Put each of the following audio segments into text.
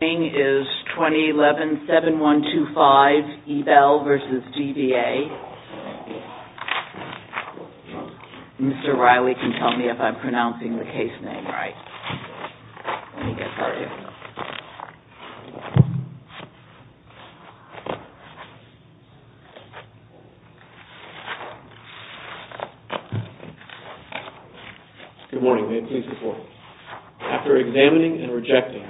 Mr. Riley can tell me if I'm pronouncing the case name right, let me get part of it. Good morning, may it please the court, after examining and rejecting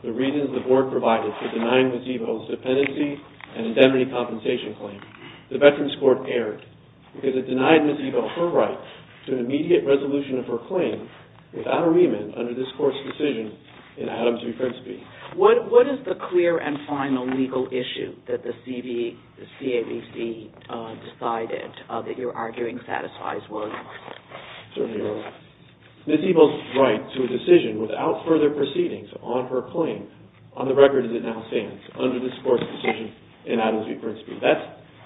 the reasons the board provided for denying Ms. Ebel's dependency and indemnity compensation claim, the Veterans Court erred because it denied Ms. Ebel her right to an immediate resolution of her claim without a remand under this court's decision in Adams v. Frisby. What is the clear and final legal issue that the CABC decided that you're arguing satisfies Williams? Ms. Ebel's right to a decision without further proceedings on her claim on the record as it now stands, under this court's decision in Adams v. Frisby.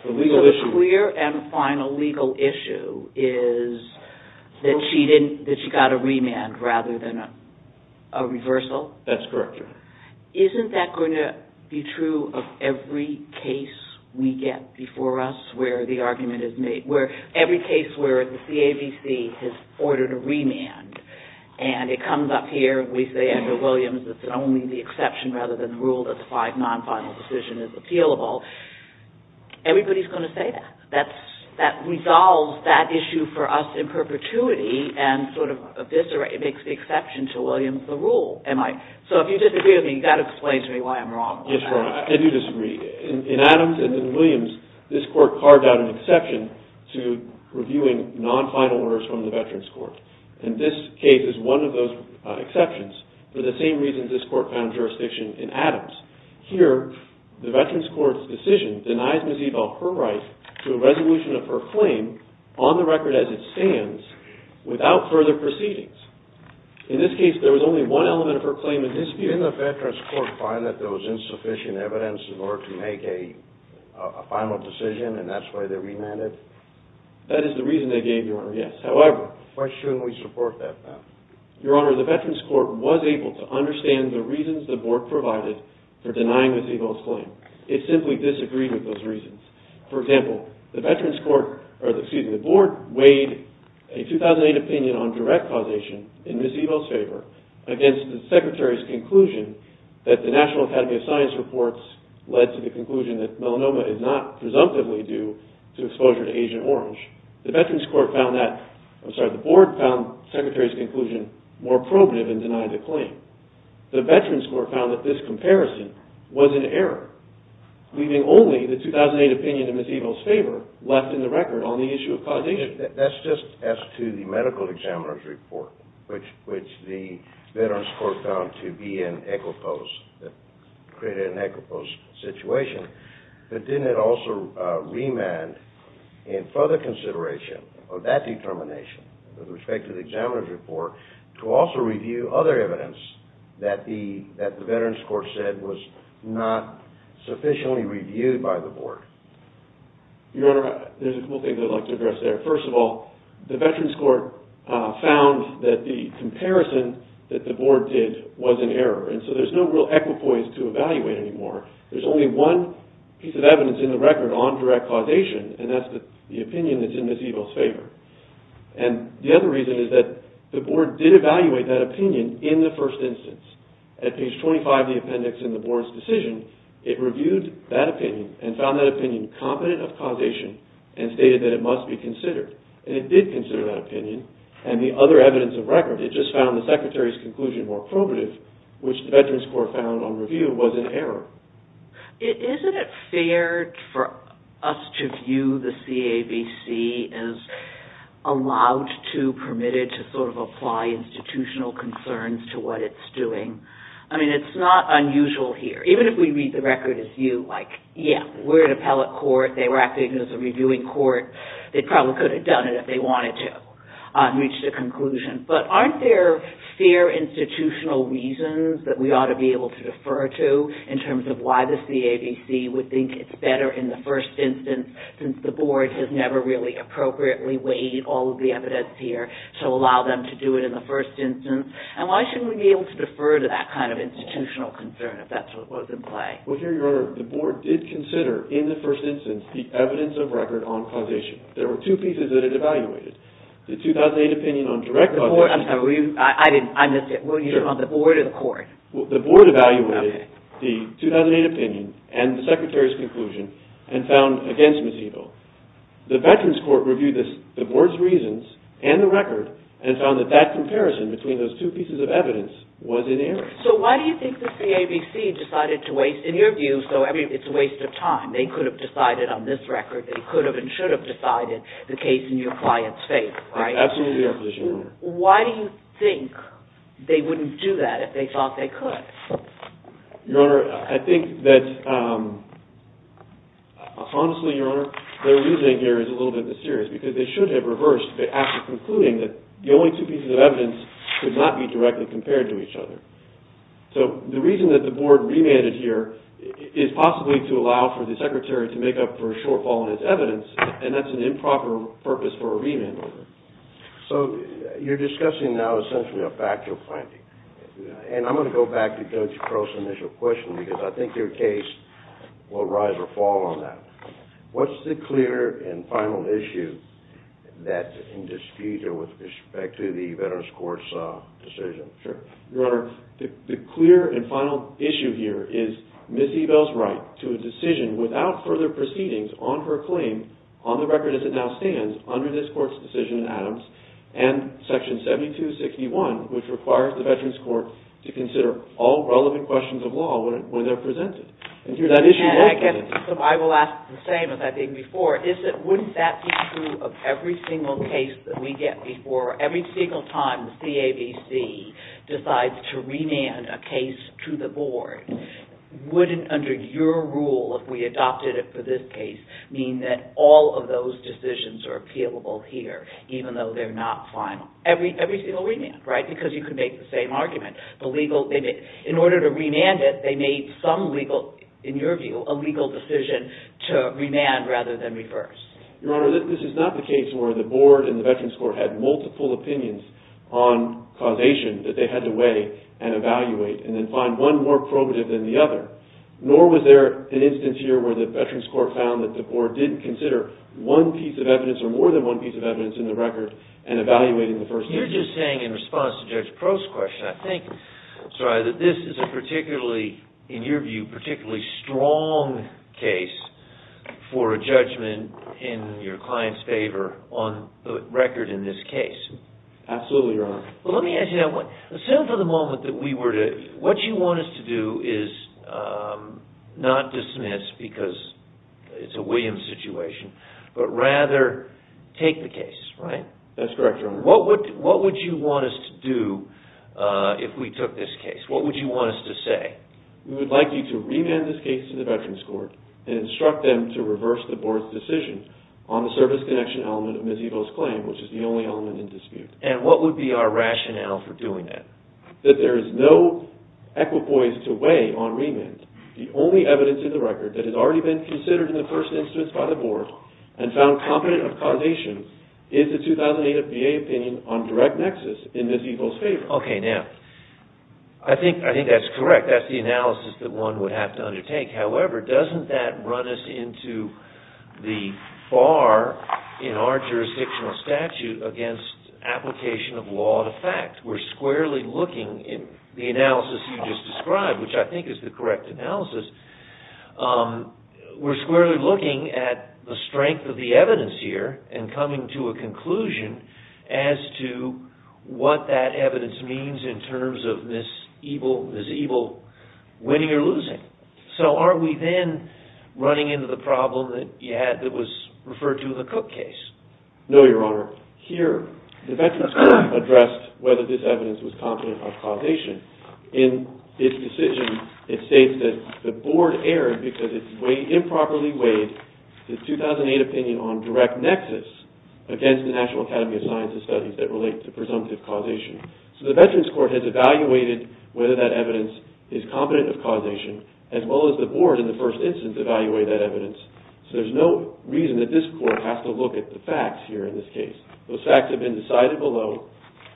So the clear and final legal issue is that she got a remand rather than a reversal? That's correct. Isn't that going to be true of every case we get before us where the argument is made? Every case where the CABC has ordered a remand and it comes up here and we say under Williams it's only the exception rather than the rule that the five non-final decision is appealable, everybody's going to say that. That resolves that issue for us in perpetuity and sort of eviscerates, makes the exception to Williams the rule, am I? So if you disagree with me, that explains to me why I'm wrong. I do disagree. In Adams and in Williams, this court carved out an exception to reviewing non-final orders from the Veterans Court. And this case is one of those exceptions for the same reasons this court found jurisdiction in Adams. Here, the Veterans Court's decision denies Ms. Ebel her right to a resolution of her claim on the record as it stands without further proceedings. In this case, there was only one element of her claim in dispute. Didn't the Veterans Court find that there was insufficient evidence in order to make a final decision and that's why they remanded? That is the reason they gave, Your Honor, yes. Why shouldn't we support that then? Your Honor, the Veterans Court was able to understand the reasons the board provided for denying Ms. Ebel's claim. It simply disagreed with those reasons. For example, the Board weighed a 2008 opinion on direct causation in Ms. Ebel's favor against the Secretary's conclusion that the National Academy of Science reports led to the conclusion that melanoma is not presumptively due to exposure to Agent Orange. The Board found the Secretary's conclusion more probative in denying the claim. The Veterans Court found that this comparison was an error, leaving only the 2008 opinion in Ms. Ebel's favor left in the record on the issue of causation. That's just as to the medical examiner's report, which the Veterans Court found to be an equiposed situation. But didn't it also remand in further consideration of that determination with respect to the examiner's report to also review other evidence that the Veterans Court said was not sufficiently reviewed by the Board? Your Honor, there's a couple things I'd like to address there. First of all, the Veterans Court found that the comparison that the Board did was an error, and so there's no real equipoise to evaluate anymore. There's only one piece of evidence in the record on direct causation, and that's the opinion that's in Ms. Ebel's favor. And the other reason is that the Board did evaluate that opinion in the first instance. At page 25 of the appendix in the Board's decision, it reviewed that opinion and found that opinion competent of causation and stated that it must be considered. And it did consider that opinion and the other evidence of record. It just found the Secretary's conclusion more probative, which the Veterans Court found on review was an error. Isn't it fair for us to view the CAVC as allowed to, permitted to sort of apply institutional concerns to what it's doing? I mean, it's not unusual here. Even if we read the record as you, like, yeah, we're an appellate court. They were acting as a reviewing court. They probably could have done it if they wanted to and reached a conclusion. But aren't there fair institutional reasons that we ought to be able to defer to in terms of why the CAVC would think it's better in the first instance since the Board has never really appropriately weighed all of the evidence here to allow them to do it in the first instance? And why shouldn't we be able to defer to that kind of institutional concern if that's what was in play? Well, Your Honor, the Board did consider, in the first instance, the evidence of record on causation. There were two pieces that it evaluated. The 2008 opinion on direct causation. I'm sorry, I missed it. Were you on the Board or the court? The Board evaluated the 2008 opinion and the Secretary's conclusion and found against Ms. Eagle. The Veterans Court reviewed the Board's reasons and the record and found that that comparison between those two pieces of evidence was inerrant. So why do you think the CAVC decided to waste, in your view, so it's a waste of time. They could have decided on this record. They could have and should have decided the case in your client's favor, right? That's absolutely your position, Your Honor. Why do you think they wouldn't do that if they thought they could? Your Honor, I think that, honestly, Your Honor, their reasoning here is a little bit mysterious because they should have reversed it after concluding that the only two pieces of evidence could not be directly compared to each other. So the reason that the Board remanded here is possibly to allow for the Secretary to make up for a shortfall in his evidence, and that's an improper purpose for a remand order. So you're discussing now essentially a factual finding, and I'm going to go back to Judge Crow's initial question because I think your case will rise or fall on that. What's the clear and final issue that's in dispute with respect to the Veterans Court's decision? Your Honor, the clear and final issue here is Ms. Eagle's right to a decision without further proceedings on her claim, on the record as it now stands, under this Court's decision in Adams, and Section 7261, which requires the Veterans Court to consider all relevant questions of law when they're presented. And I guess I will ask the same as I did before. Wouldn't that be true of every single case that we get before, every single time the CAVC decides to remand a case to the Board? Wouldn't, under your rule, if we adopted it for this case, mean that all of those decisions are appealable here, even though they're not final? Every single remand, right? Because you could make the same argument. In order to remand it, they made some legal, in your view, a legal decision to remand rather than reverse. Your Honor, this is not the case where the Board and the Veterans Court had multiple opinions on causation that they had to weigh and evaluate and then find one more probative than the other. Nor was there an instance here where the Veterans Court found that the Board didn't consider one piece of evidence or more than one piece of evidence in the record and evaluating the first instance. You're just saying in response to Judge Prost's question, I think, Sariah, that this is a particularly, in your view, particularly strong case for a judgment in your client's favor on the record in this case. Absolutely, Your Honor. Let me ask you that. Assume for the moment that we were to... What you want us to do is not dismiss because it's a Williams situation, but rather take the case, right? That's correct, Your Honor. What would you want us to do if we took this case? What would you want us to say? We would like you to remand this case to the Veterans Court and instruct them to reverse the Board's decision on the service connection element of Ms. Evo's claim, which is the only element in dispute. And what would be our rationale for doing that? That there is no equipoise to weigh on remand. The only evidence in the record that has already been considered in the first instance by the Board and found competent of causation is the 2008 VA opinion on direct nexus in Ms. Evo's favor. Okay, now, I think that's correct. That's the analysis that one would have to undertake. However, doesn't that run us into the bar in our jurisdictional statute against application of law to fact? We're squarely looking in the analysis you just described, which I think is the correct analysis. We're squarely looking at the strength of the evidence here and coming to a conclusion as to what that evidence means in terms of Ms. Evo winning or losing. So, aren't we then running into the problem that you had that was referred to in the Cook case? No, Your Honor. Here, the Veterans Court addressed whether this evidence was competent of causation. In its decision, it states that the Board erred because it improperly weighed the 2008 opinion on direct nexus against the National Academy of Sciences studies that relate to presumptive causation. So, the Veterans Court has evaluated whether that evidence is competent of causation, as well as the Board, in the first instance, evaluated that evidence. So, there's no reason that this Court has to look at the facts here in this case. Those facts have been decided below.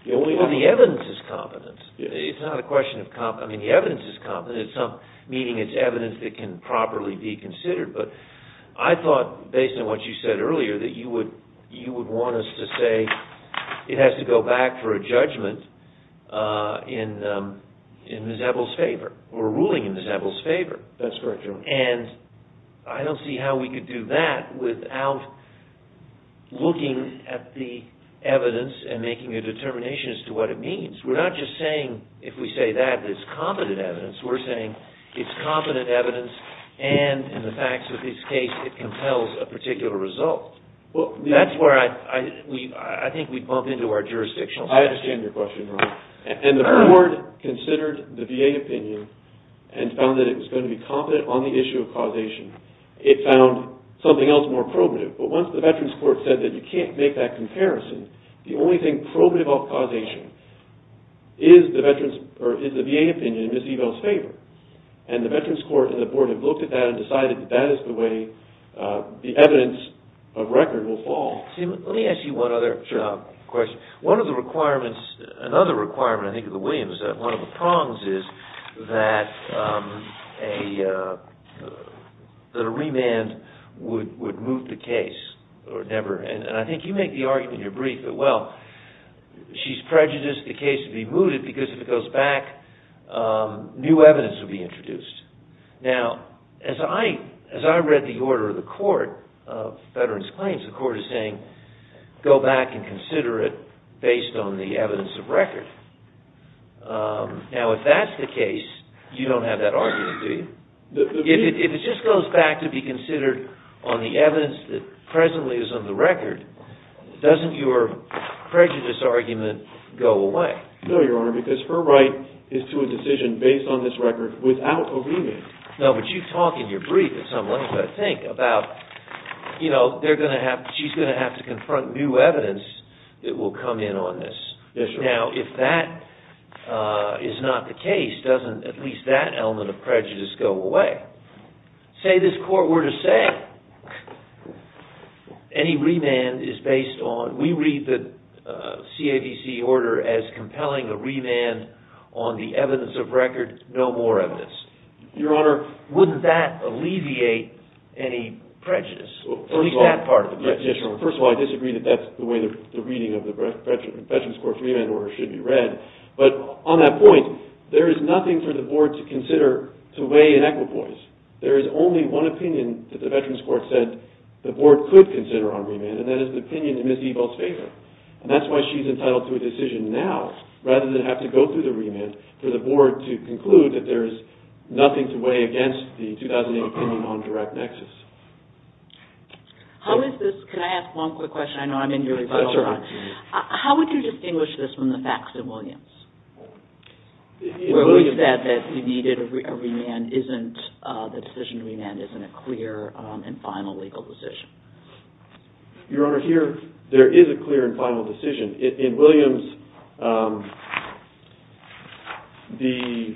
Well, the evidence is competent. It's not a question of competence. I mean, the evidence is competent, meaning it's evidence that can properly be considered. But I thought, based on what you said earlier, that you would want us to say it has to go back for a judgment in Ms. Evo's favor or a ruling in Ms. Evo's favor. That's correct, Your Honor. And I don't see how we could do that without looking at the evidence and making a determination as to what it means. We're not just saying, if we say that it's competent evidence, we're saying it's competent evidence and, in the facts of this case, it compels a particular result. That's where I think we'd bump into our jurisdictional... I understand your question, Your Honor. And the Board considered the VA opinion and found that it was going to be competent on the issue of causation. It found something else more probative. But once the Veterans Court said that you can't make that comparison, the only thing probative of causation is the VA opinion in Ms. Evo's favor. And the Veterans Court and the Board have looked at that and decided that that is the way the evidence of record will fall. Let me ask you one other question. One of the requirements, another requirement, I think, of the Williams, one of the prongs is that a remand would move the case. And I think you make the argument in your brief that, well, she's prejudiced the case to be moved because if it goes back, new evidence will be introduced. Now, as I read the order of the Court of Veterans Claims, the Court is saying go back and consider it based on the evidence of record. Now, if that's the case, you don't have that argument, do you? If it just goes back to be considered on the evidence that presently is on the record, doesn't your prejudice argument go away? No, Your Honor, because her right is to a decision based on this record without a remand. No, but you talk in your brief at some length, I think, about, you know, she's going to have to confront new evidence that will come in on this. Yes, Your Honor. Now, if that is not the case, doesn't at least that element of prejudice go away? Say this court were to say any remand is based on, we read the CADC order as compelling a remand on the evidence of record, no more evidence. Your Honor. Wouldn't that alleviate any prejudice? At least that part of it. Yes, Your Honor. First of all, I disagree that that's the way the reading of the Veterans Court's remand order should be read, but on that point, there is nothing for the Board to consider to weigh in equipoise. There is only one opinion that the Veterans Court said the Board could consider on remand, and that is the opinion in Ms. Ebel's favor, and that's why she's entitled to a decision now rather than have to go through the remand for the Board to conclude that there is nothing to weigh against the 2008 opinion on direct nexus. How is this – can I ask one quick question? I know I'm in your rebuttal time. That's all right. How would you distinguish this from the facts in Williams, where we said that we needed a remand isn't – the decision to remand isn't a clear and final legal decision? Your Honor, here, there is a clear and final decision. In Williams, the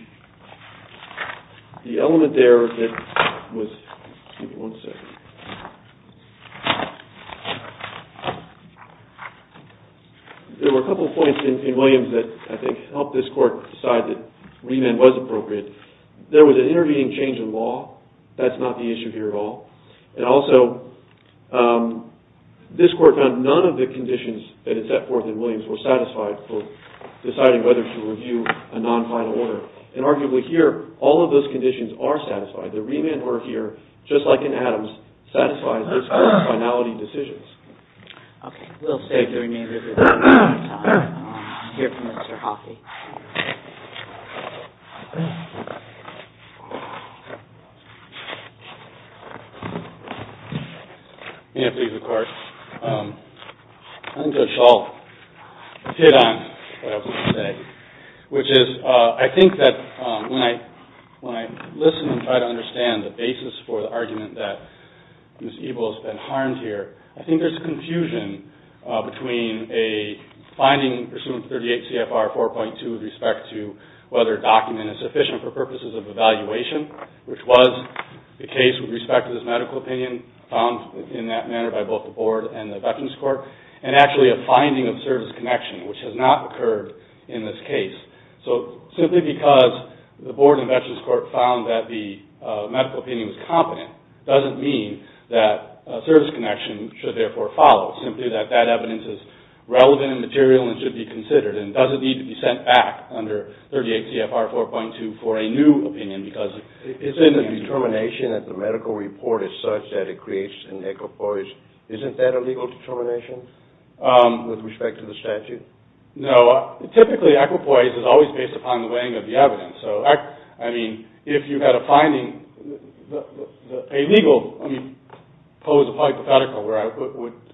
element there that was – give me one second. There were a couple of points in Williams that I think helped this Court decide that remand was appropriate. There was an intervening change in law. That's not the issue here at all. And also, this Court found none of the conditions that it set forth in Williams were satisfied for deciding whether to review a non-final order. And arguably here, all of those conditions are satisfied. The remand order here, just like in Adams, satisfies this Court's finality decisions. Okay. We'll save the remand order for another time. I'll hear from Mr. Hockey. May I please record? I think that it's all hit on what I was going to say, which is I think that when I listen and try to understand the basis for the argument that Ms. Ebel has been harmed here, I think there's confusion between a finding pursuant to 38 CFR 4.2 with respect to whether a document is sufficient for purposes of evaluation, which was the case with respect to this medical opinion found in that manner by both the Board and the Veterans Court, and actually a finding of service connection, which has not occurred in this case. So simply because the Board and Veterans Court found that the medical opinion was competent doesn't mean that service connection should therefore follow. Simply that that evidence is relevant and material and should be considered. And does it need to be sent back under 38 CFR 4.2 for a new opinion? Because it's in the determination that the medical report is such that it creates an equipoise. Isn't that a legal determination with respect to the statute? No. Typically, equipoise is always based upon the weighing of the evidence. So, I mean, if you had a finding, a legal, I mean, pose a hypothetical where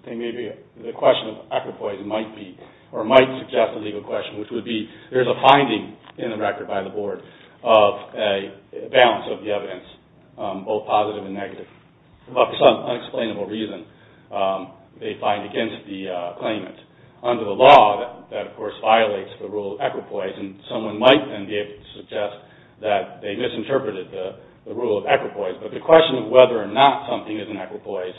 they may be, the question of equipoise might be or might suggest a legal question, which would be there's a finding in the record by the Board of a balance of the evidence, both positive and negative, but for some unexplainable reason they find against the claimant. Under the law, that of course violates the rule of equipoise, and someone might then be able to suggest that they misinterpreted the rule of equipoise. But the question of whether or not something is an equipoise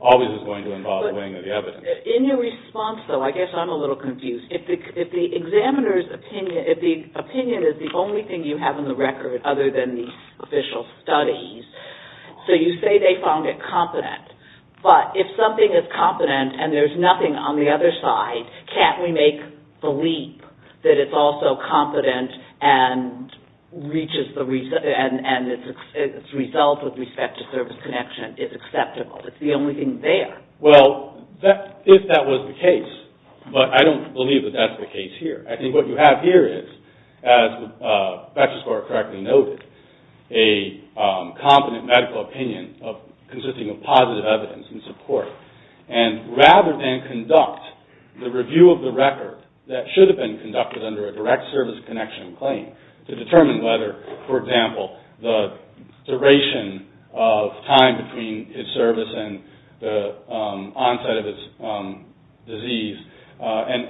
always is going to involve weighing of the evidence. In your response, though, I guess I'm a little confused. If the opinion is the only thing you have in the record other than the official studies, so you say they found it competent, but if something is competent and there's nothing on the other side, can't we make the leap that it's also competent and its result with respect to service connection is acceptable? It's the only thing there. Well, if that was the case, but I don't believe that that's the case here. I think what you have here is, as Dr. Skor correctly noted, a competent medical opinion consisting of positive evidence and support. Rather than conduct the review of the record that should have been conducted under a direct service connection claim to determine whether, for example, the duration of time between his service and the onset of his disease and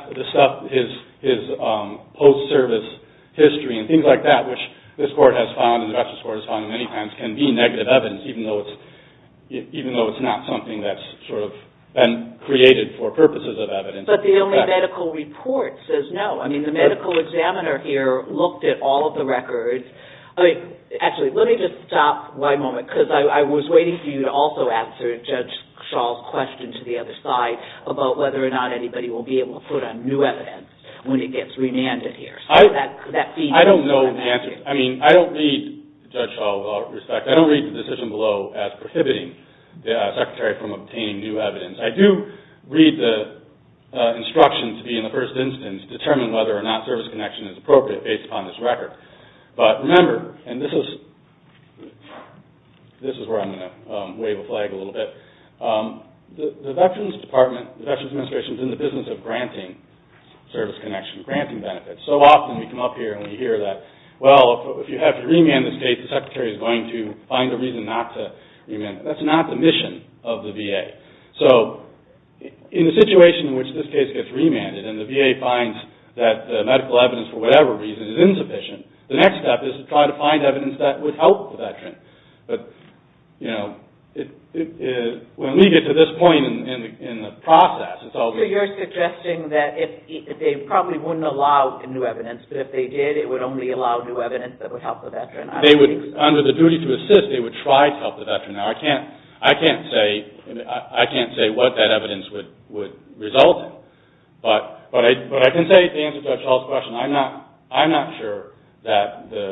his post-service history and things like that, which this Court has found and the Justice Court has found many times, can be negative evidence, even though it's not something that's sort of been created for purposes of evidence. But the only medical report says no. I mean, the medical examiner here looked at all of the records. Actually, let me just stop one moment because I was waiting for you to also answer Judge Shaw's question to the other side about whether or not anybody will be able to put on new evidence when he gets remanded here. I don't know the answer. I mean, I don't read, Judge Shaw, with all due respect, I don't read the decision below as prohibiting the Secretary from obtaining new evidence. I do read the instructions to be, in the first instance, determine whether or not service connection is appropriate based upon this record. But remember, and this is where I'm going to wave a flag a little bit, the Veterans Administration is in the business of granting service connection, granting benefits. So often we come up here and we hear that, well, if you have to remand this case, the Secretary is going to find a reason not to remand it. That's not the mission of the VA. So in the situation in which this case gets remanded and the VA finds that medical evidence, for whatever reason, is insufficient, the next step is to try to find evidence that would help the Veteran. But, you know, when we get to this point in the process, it's always… But if they did, it would only allow new evidence that would help the Veteran. They would, under the duty to assist, they would try to help the Veteran. Now, I can't say what that evidence would result in. But I can say, to answer Judge Shaw's question, I'm not sure that the…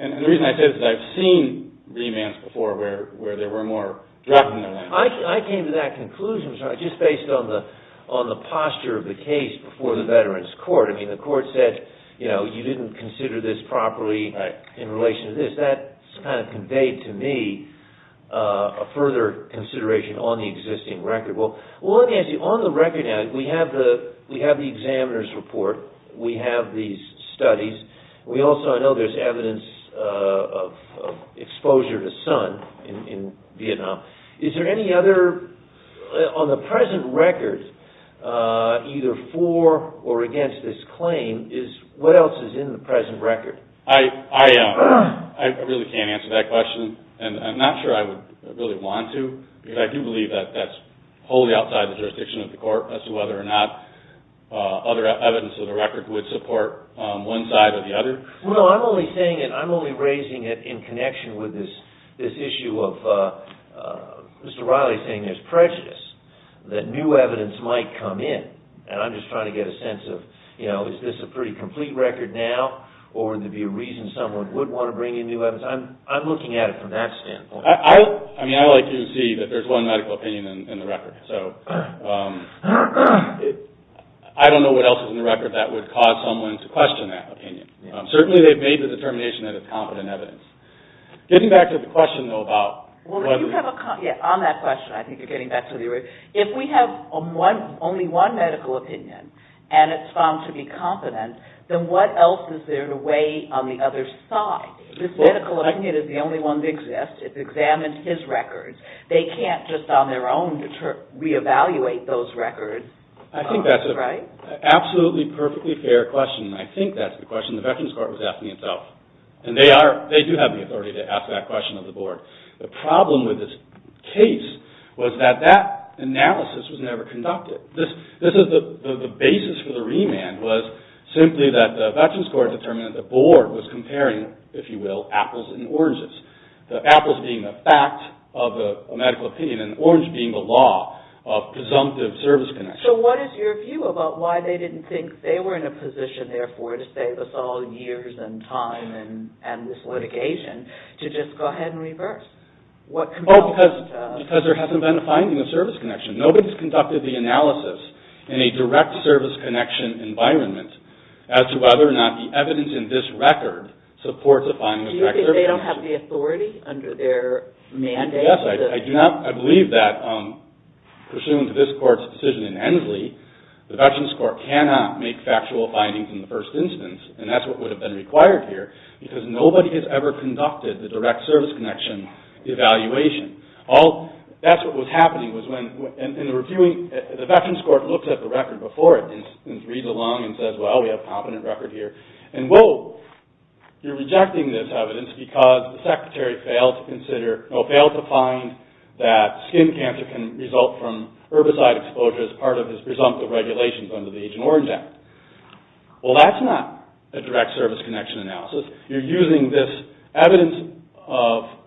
And the reason I say this is I've seen remands before where there were more… I came to that conclusion just based on the posture of the case before the Veterans Court. I mean, the Court said, you know, you didn't consider this properly in relation to this. That kind of conveyed to me a further consideration on the existing record. Well, let me ask you, on the record now, we have the examiner's report. We have these studies. We also know there's evidence of exposure to sun in Vietnam. Is there any other, on the present record, either for or against this claim, what else is in the present record? I really can't answer that question, and I'm not sure I would really want to, because I do believe that that's wholly outside the jurisdiction of the Court as to whether or not other evidence of the record would support one side or the other. Well, I'm only saying it, I'm only raising it in connection with this issue of Mr. Riley saying there's prejudice, that new evidence might come in. And I'm just trying to get a sense of, you know, is this a pretty complete record now, or would there be a reason someone would want to bring in new evidence? I'm looking at it from that standpoint. I mean, I like to see that there's one medical opinion in the record. So I don't know what else is in the record that would cause someone to question that opinion. Certainly they've made the determination that it's competent evidence. Getting back to the question, though, about what is it? On that question, I think you're getting back to the original. If we have only one medical opinion, and it's found to be competent, then what else is there to weigh on the other side? This medical opinion is the only one that exists. It's examined his records. They can't just on their own reevaluate those records. I think that's an absolutely perfectly fair question, and I think that's the question the Veterans Court was asking itself. And they do have the authority to ask that question of the Board. The problem with this case was that that analysis was never conducted. The basis for the remand was simply that the Veterans Court determined that the Board was comparing, if you will, apples and oranges. The apples being the fact of a medical opinion, and the orange being the law of presumptive service connection. So what is your view about why they didn't think they were in a position, therefore, to save us all years and time and this litigation, to just go ahead and reverse? Because there hasn't been a finding of service connection. Nobody's conducted the analysis in a direct service connection environment as to whether or not the evidence in this record supports a finding of direct service connection. So you're saying they don't have the authority under their mandate? Yes, I do not. I believe that, pursuant to this Court's decision in Ensley, the Veterans Court cannot make factual findings in the first instance, and that's what would have been required here, because nobody has ever conducted the direct service connection evaluation. That's what was happening. The Veterans Court looked at the record before it and reads along and says, well, we have a competent record here. And, whoa, you're rejecting this evidence because the Secretary failed to find that skin cancer can result from herbicide exposure as part of his presumptive regulations under the Agent Orange Act. Well, that's not a direct service connection analysis. You're using this evidence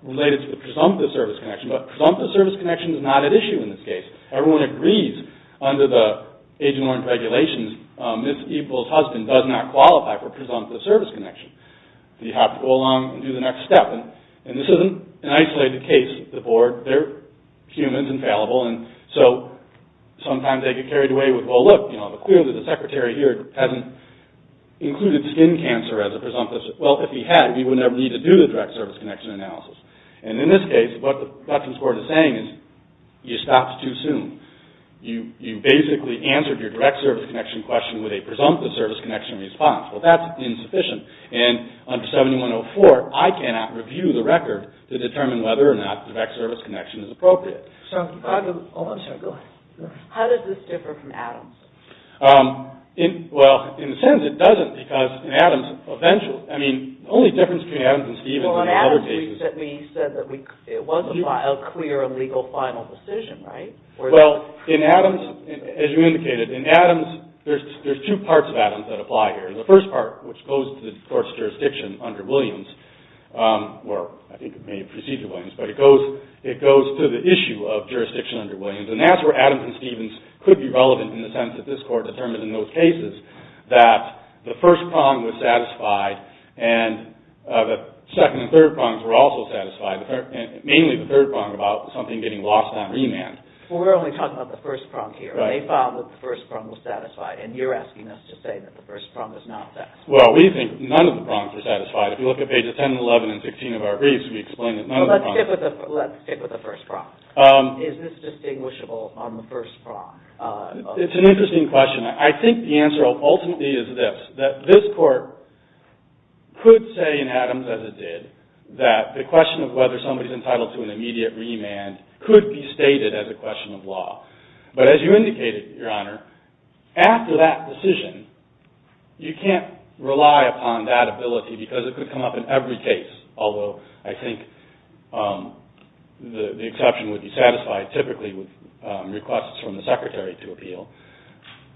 related to the presumptive service connection, but presumptive service connection is not at issue in this case. Everyone agrees under the Agent Orange regulations Ms. Eagle's husband does not qualify for presumptive service connection. You have to go along and do the next step. And this is an isolated case. The Board, they're humans, infallible, and so sometimes they get carried away with, well, look, clearly the Secretary here hasn't included skin cancer as a presumptive. Well, if he had, we would never need to do the direct service connection analysis. And in this case, what the Veterans Court is saying is you stopped too soon. You basically answered your direct service connection question with a presumptive service connection response. Well, that's insufficient. And under 7104, I cannot review the record to determine whether or not direct service connection is appropriate. So, if I could, oh, I'm sorry, go ahead. How does this differ from Adams? Well, in a sense, it doesn't because in Adams, eventually, I mean, the only difference between Adams and Stevens and other cases is Well, in Adams, we said that it was a clear and legal final decision, right? Well, in Adams, as you indicated, in Adams, there's two parts of Adams that apply here. The first part, which goes to the Court's jurisdiction under Williams, or I think it may proceed to Williams, but it goes to the issue of jurisdiction under Williams. And that's where Adams and Stevens could be relevant in the sense that this Court determined in those cases that the first prong was satisfied and the second and third prongs were also satisfied, mainly the third prong about something getting lost on remand. Well, we're only talking about the first prong here. Right. They found that the first prong was satisfied, and you're asking us to say that the first prong was not satisfied. Well, we think none of the prongs were satisfied. If you look at pages 10 and 11 and 16 of our briefs, we explain that none of the prongs were satisfied. Let's stick with the first prong. Is this distinguishable on the first prong? It's an interesting question. I think the answer ultimately is this, that this Court could say in Adams, as it did, that the question of whether somebody is entitled to an immediate remand could be stated as a question of law. But as you indicated, Your Honor, after that decision, you can't rely upon that ability because it could come up in every case, although I think the exception would be satisfied typically with requests from the Secretary to appeal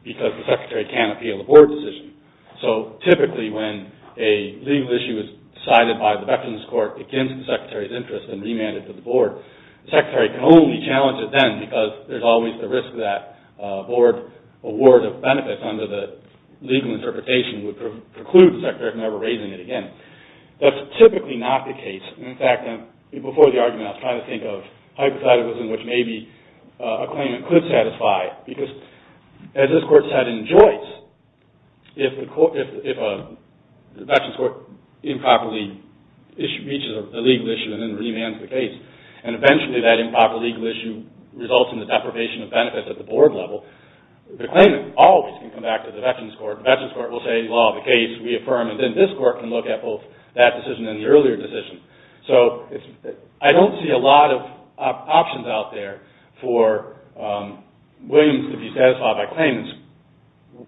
because the Secretary can't appeal a Board decision. So typically when a legal issue is decided by the Veterans Court against the Secretary's interest and remanded to the Board, the Secretary can only challenge it then because there's always the risk that a Board award of benefits under the legal interpretation would preclude the Secretary from ever raising it again. That's typically not the case. In fact, before the argument, I was trying to think of hypotheticals in which maybe a claimant could satisfy because, as this Court said in Joyce, if the Veterans Court improperly reaches a legal issue and then remands the case, and eventually that improper legal issue results in the deprivation of benefits at the Board level, the claimant always can come back to the Veterans Court. The Veterans Court will say, law of the case, we affirm, and then this Court can look at both that decision and the earlier decision. So I don't see a lot of options out there for Williams to be satisfied by claimants.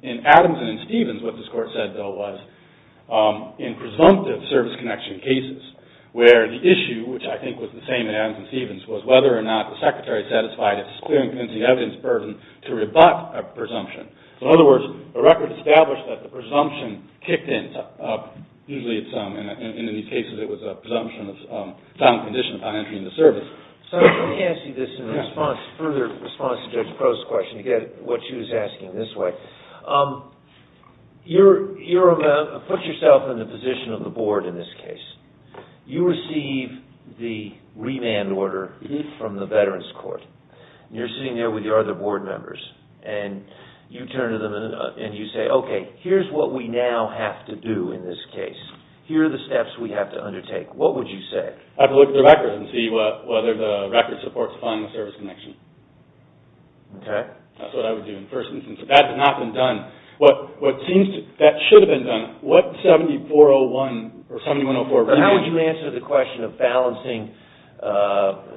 In Adamson and Stevens, what this Court said, though, was in presumptive service connection cases where the issue, which I think was the same in Adams and Stevens, was whether or not the Secretary satisfied its clear and convincing evidence burden to rebut a presumption. In other words, a record established that the presumption kicked in. Usually in these cases it was a presumption of sound condition upon entering the service. Let me ask you this in further response to Judge Crow's question. You get what she was asking this way. You put yourself in the position of the Board in this case. You receive the remand order from the Veterans Court. You're sitting there with your other Board members, and you turn to them and you say, okay, here's what we now have to do in this case. Here are the steps we have to undertake. What would you say? I'd have to look at the record and see whether the record supports final service connection. Okay. That's what I would do in the first instance. If that had not been done, what seems to have been done, what 7401 or 7104 remand order? How would you answer the question of balancing,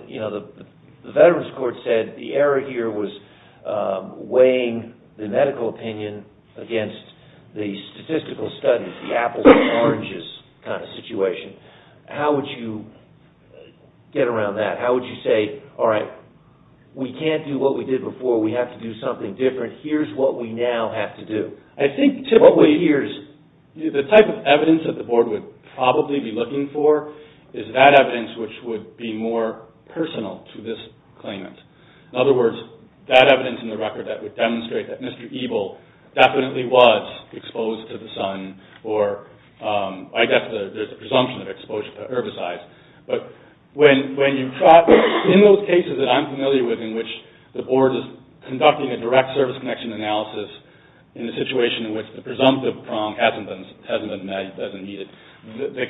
you know, the Veterans Court said the error here was weighing the medical opinion against the statistical studies, the apples and oranges kind of situation. How would you get around that? How would you say, all right, we can't do what we did before. We have to do something different. Here's what we now have to do. I think typically the type of evidence that the Board would probably be looking for is that evidence which would be more personal to this claimant. In other words, that evidence in the record that would demonstrate that Mr. Eble definitely was exposed to the sun or I guess there's a presumption of exposure to herbicides. But in those cases that I'm familiar with in which the Board is conducting a direct service connection analysis in a situation in which the presumptive prong hasn't been met, doesn't meet it, the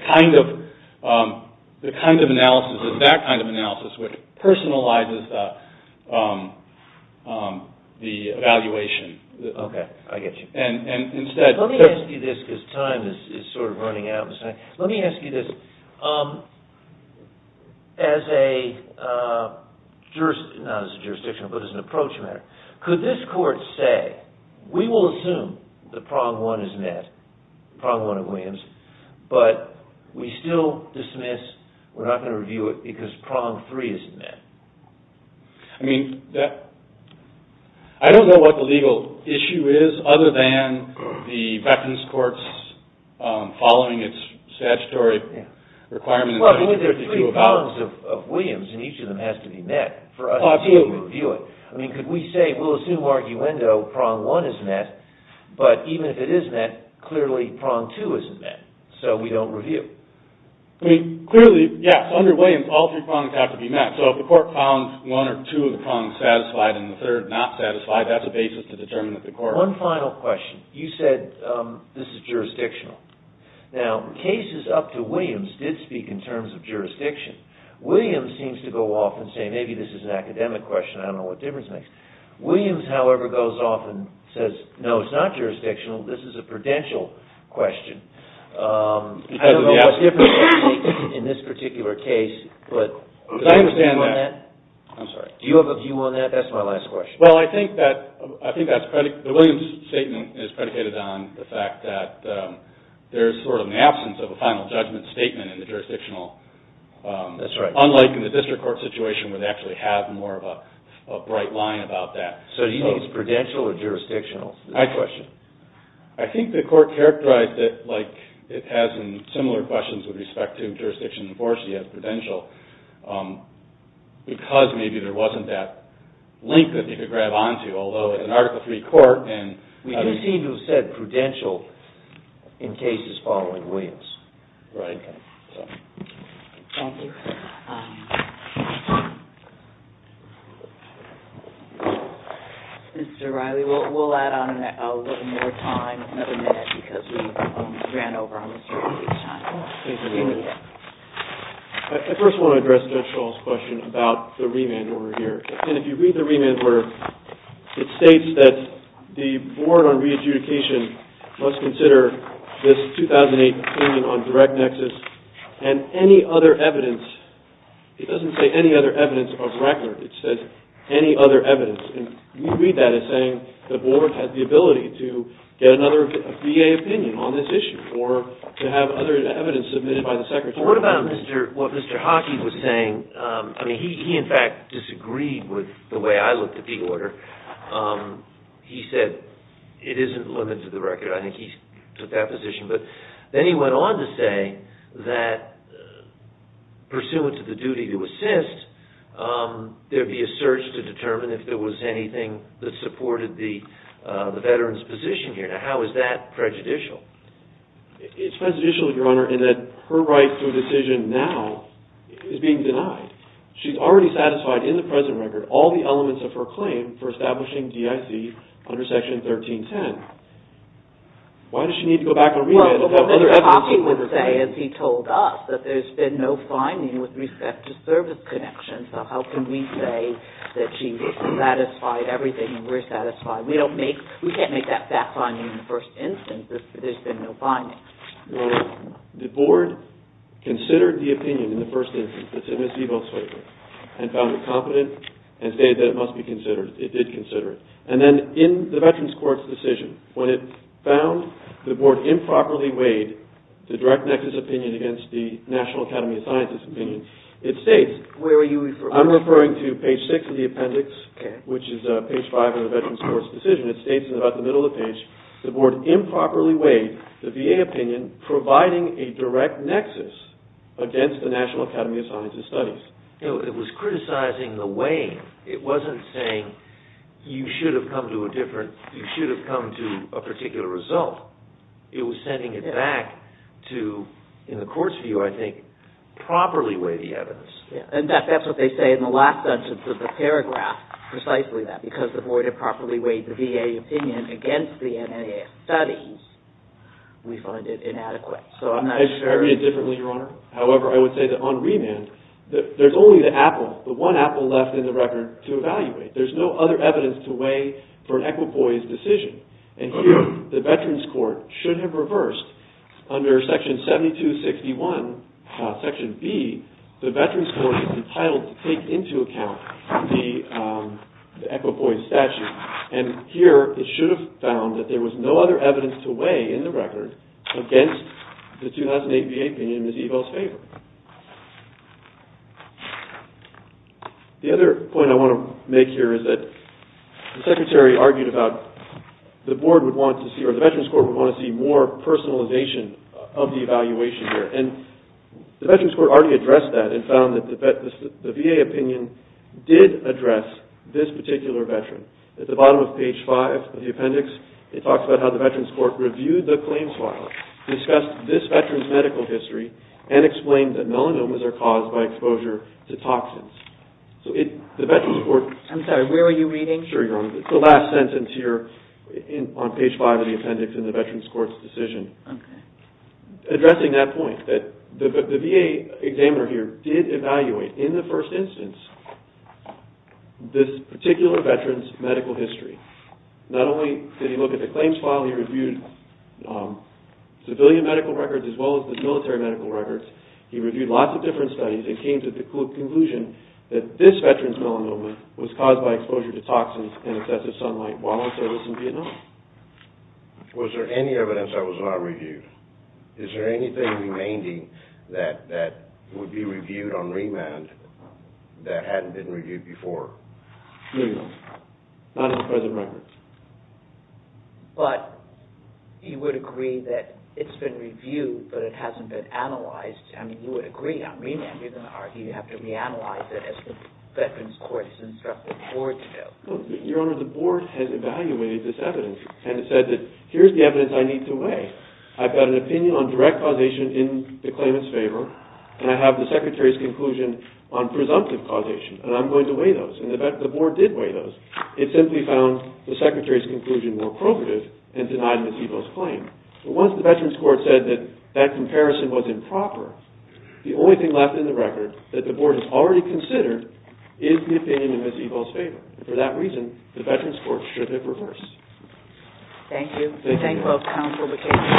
kind of analysis is that kind of analysis which personalizes the evaluation. Okay, I get you. Let me ask you this because time is sort of running out. Let me ask you this. As a jurisdiction, not as a jurisdiction, but as an approach matter, could this court say, we will assume the prong one is met, prong one of Williams, but we still dismiss, we're not going to review it because prong three isn't met? I mean, I don't know what the legal issue is other than the Veterans Courts following its statutory requirement. Well, I mean, there are three prongs of Williams and each of them has to be met for us to review it. I mean, could we say, we'll assume arguendo prong one is met, but even if it is met, clearly prong two isn't met, so we don't review. I mean, clearly, yes, under Williams, all three prongs have to be met. So if the court found one or two of the prongs satisfied and the third not satisfied, that's a basis to determine that the court... One final question. You said this is jurisdictional. Now, cases up to Williams did speak in terms of jurisdiction. Williams seems to go off and say, maybe this is an academic question, I don't know what difference it makes. Williams, however, goes off and says, no, it's not jurisdictional, this is a prudential question. I don't know what's different in this particular case, but do you have a view on that? That's my last question. Well, I think that's predi... The Williams statement is predicated on the fact that there's sort of an absence of a final judgment statement in the jurisdictional... That's right. Unlike in the district court situation where they actually have more of a bright line about that. So do you think it's prudential or jurisdictional? That's my question. it has in similar questions with respect to jurisdiction, unfortunately, as prudential, because maybe there wasn't that link that you could grab onto, although in an Article III court... We do seem to have said prudential in cases following Williams. Right. Thank you. Mr. Riley, we'll add on a little more time, another minute, because we've ran over on the circulation. I first want to address Judge Schall's question about the remand order here. And if you read the remand order, it states that the board on re-adjudication must consider this 2008 opinion on direct nexus and any other evidence. It doesn't say any other evidence of record. It says any other evidence. And you read that as saying the board has the ability to get another VA opinion on this issue or to have other evidence submitted by the secretary. What about what Mr. Hockey was saying? He, in fact, disagreed with the way I looked at the order. He said it isn't limited to the record. I think he took that position. But then he went on to say that, pursuant to the duty to assist, there'd be a search to determine if there was anything that supported the veteran's position here. Now, how is that prejudicial? It's prejudicial, Your Honor, in that her right to a decision now is being denied. She's already satisfied in the present record all the elements of her claim for establishing DIC under Section 1310. Why does she need to go back on remand and have other evidence? Well, Mr. Hockey would say, as he told us, that there's been no finding with respect to service connections. So how can we say that she satisfied everything and we're satisfied? We can't make that fact finding in the first instance if there's been no finding. Your Honor, the Board considered the opinion in the first instance, it's a mischievous statement, and found it competent and stated that it must be considered. It did consider it. And then in the Veterans Court's decision, when it found the Board improperly weighed the direct nexus opinion against the National Academy of Sciences opinion, it states... Where are you referring to? I'm referring to page 6 of the appendix, which is page 5 of the Veterans Court's decision. It states in about the middle of the page, the Board improperly weighed the VA opinion providing a direct nexus against the National Academy of Sciences studies. It was criticizing the weighing. It wasn't saying you should have come to a different... You should have come to a particular result. It was sending it back to, in the Court's view, I think, properly weigh the evidence. In fact, that's what they say in the last sentence of the paragraph. Precisely that. Because the Board improperly weighed the VA opinion against the NAAF studies, we find it inadequate. So I'm not sure... I read it differently, Your Honor. However, I would say that on remand, there's only the apple, the one apple left in the record to evaluate. There's no other evidence to weigh for an equipoised decision. And here, the Veterans Court should have reversed. Under Section 7261, Section B, the Veterans Court is entitled to take into account the equipoised statute. And here, it should have found that there was no other evidence to weigh in the record against the 2008 VA opinion in Ms. Evel's favor. The other point I want to make here is that the Secretary argued about the Board would want to see... or the Veterans Court would want to see more personalization of the evaluation here. And the Veterans Court already addressed that and found that the VA opinion did address this particular Veteran. At the bottom of page 5 of the appendix, it talks about how the Veterans Court reviewed the claims file, discussed this Veteran's medical history, and explained that melanomas are caused by exposure to toxins. So the Veterans Court... I'm sorry, where are you reading? Sure, Your Honor. It's the last sentence here on page 5 of the appendix in the Veterans Court's decision. Okay. Addressing that point, the VA examiner here did evaluate, in the first instance, this particular Veteran's medical history. Not only did he look at the claims file, he reviewed civilian medical records as well as the military medical records. He reviewed lots of different studies and came to the conclusion that this Veteran's melanoma was caused by exposure to toxins and excessive sunlight while on service in Vietnam. Was there any evidence that was not reviewed? Is there anything remaining that would be reviewed on remand that hadn't been reviewed before? No, Your Honor. Not in the present records. But you would agree that it's been reviewed, but it hasn't been analyzed, and you would agree on remand. You're going to argue you have to reanalyze it as the Veterans Court has instructed the Board to do. and has said that here's the evidence I need to weigh. I've got an opinion on direct causation in the claimant's favor, and I have the Secretary's conclusion on presumptive causation, and I'm going to weigh those. And the Board did weigh those. It simply found the Secretary's conclusion more probative and denied Ms. Evo's claim. But once the Veterans Court said that that comparison was improper, the only thing left in the record that the Board has already considered is the opinion in Ms. Evo's favor. For that reason, the Veterans Court should have reversed. Thank you. Thank you.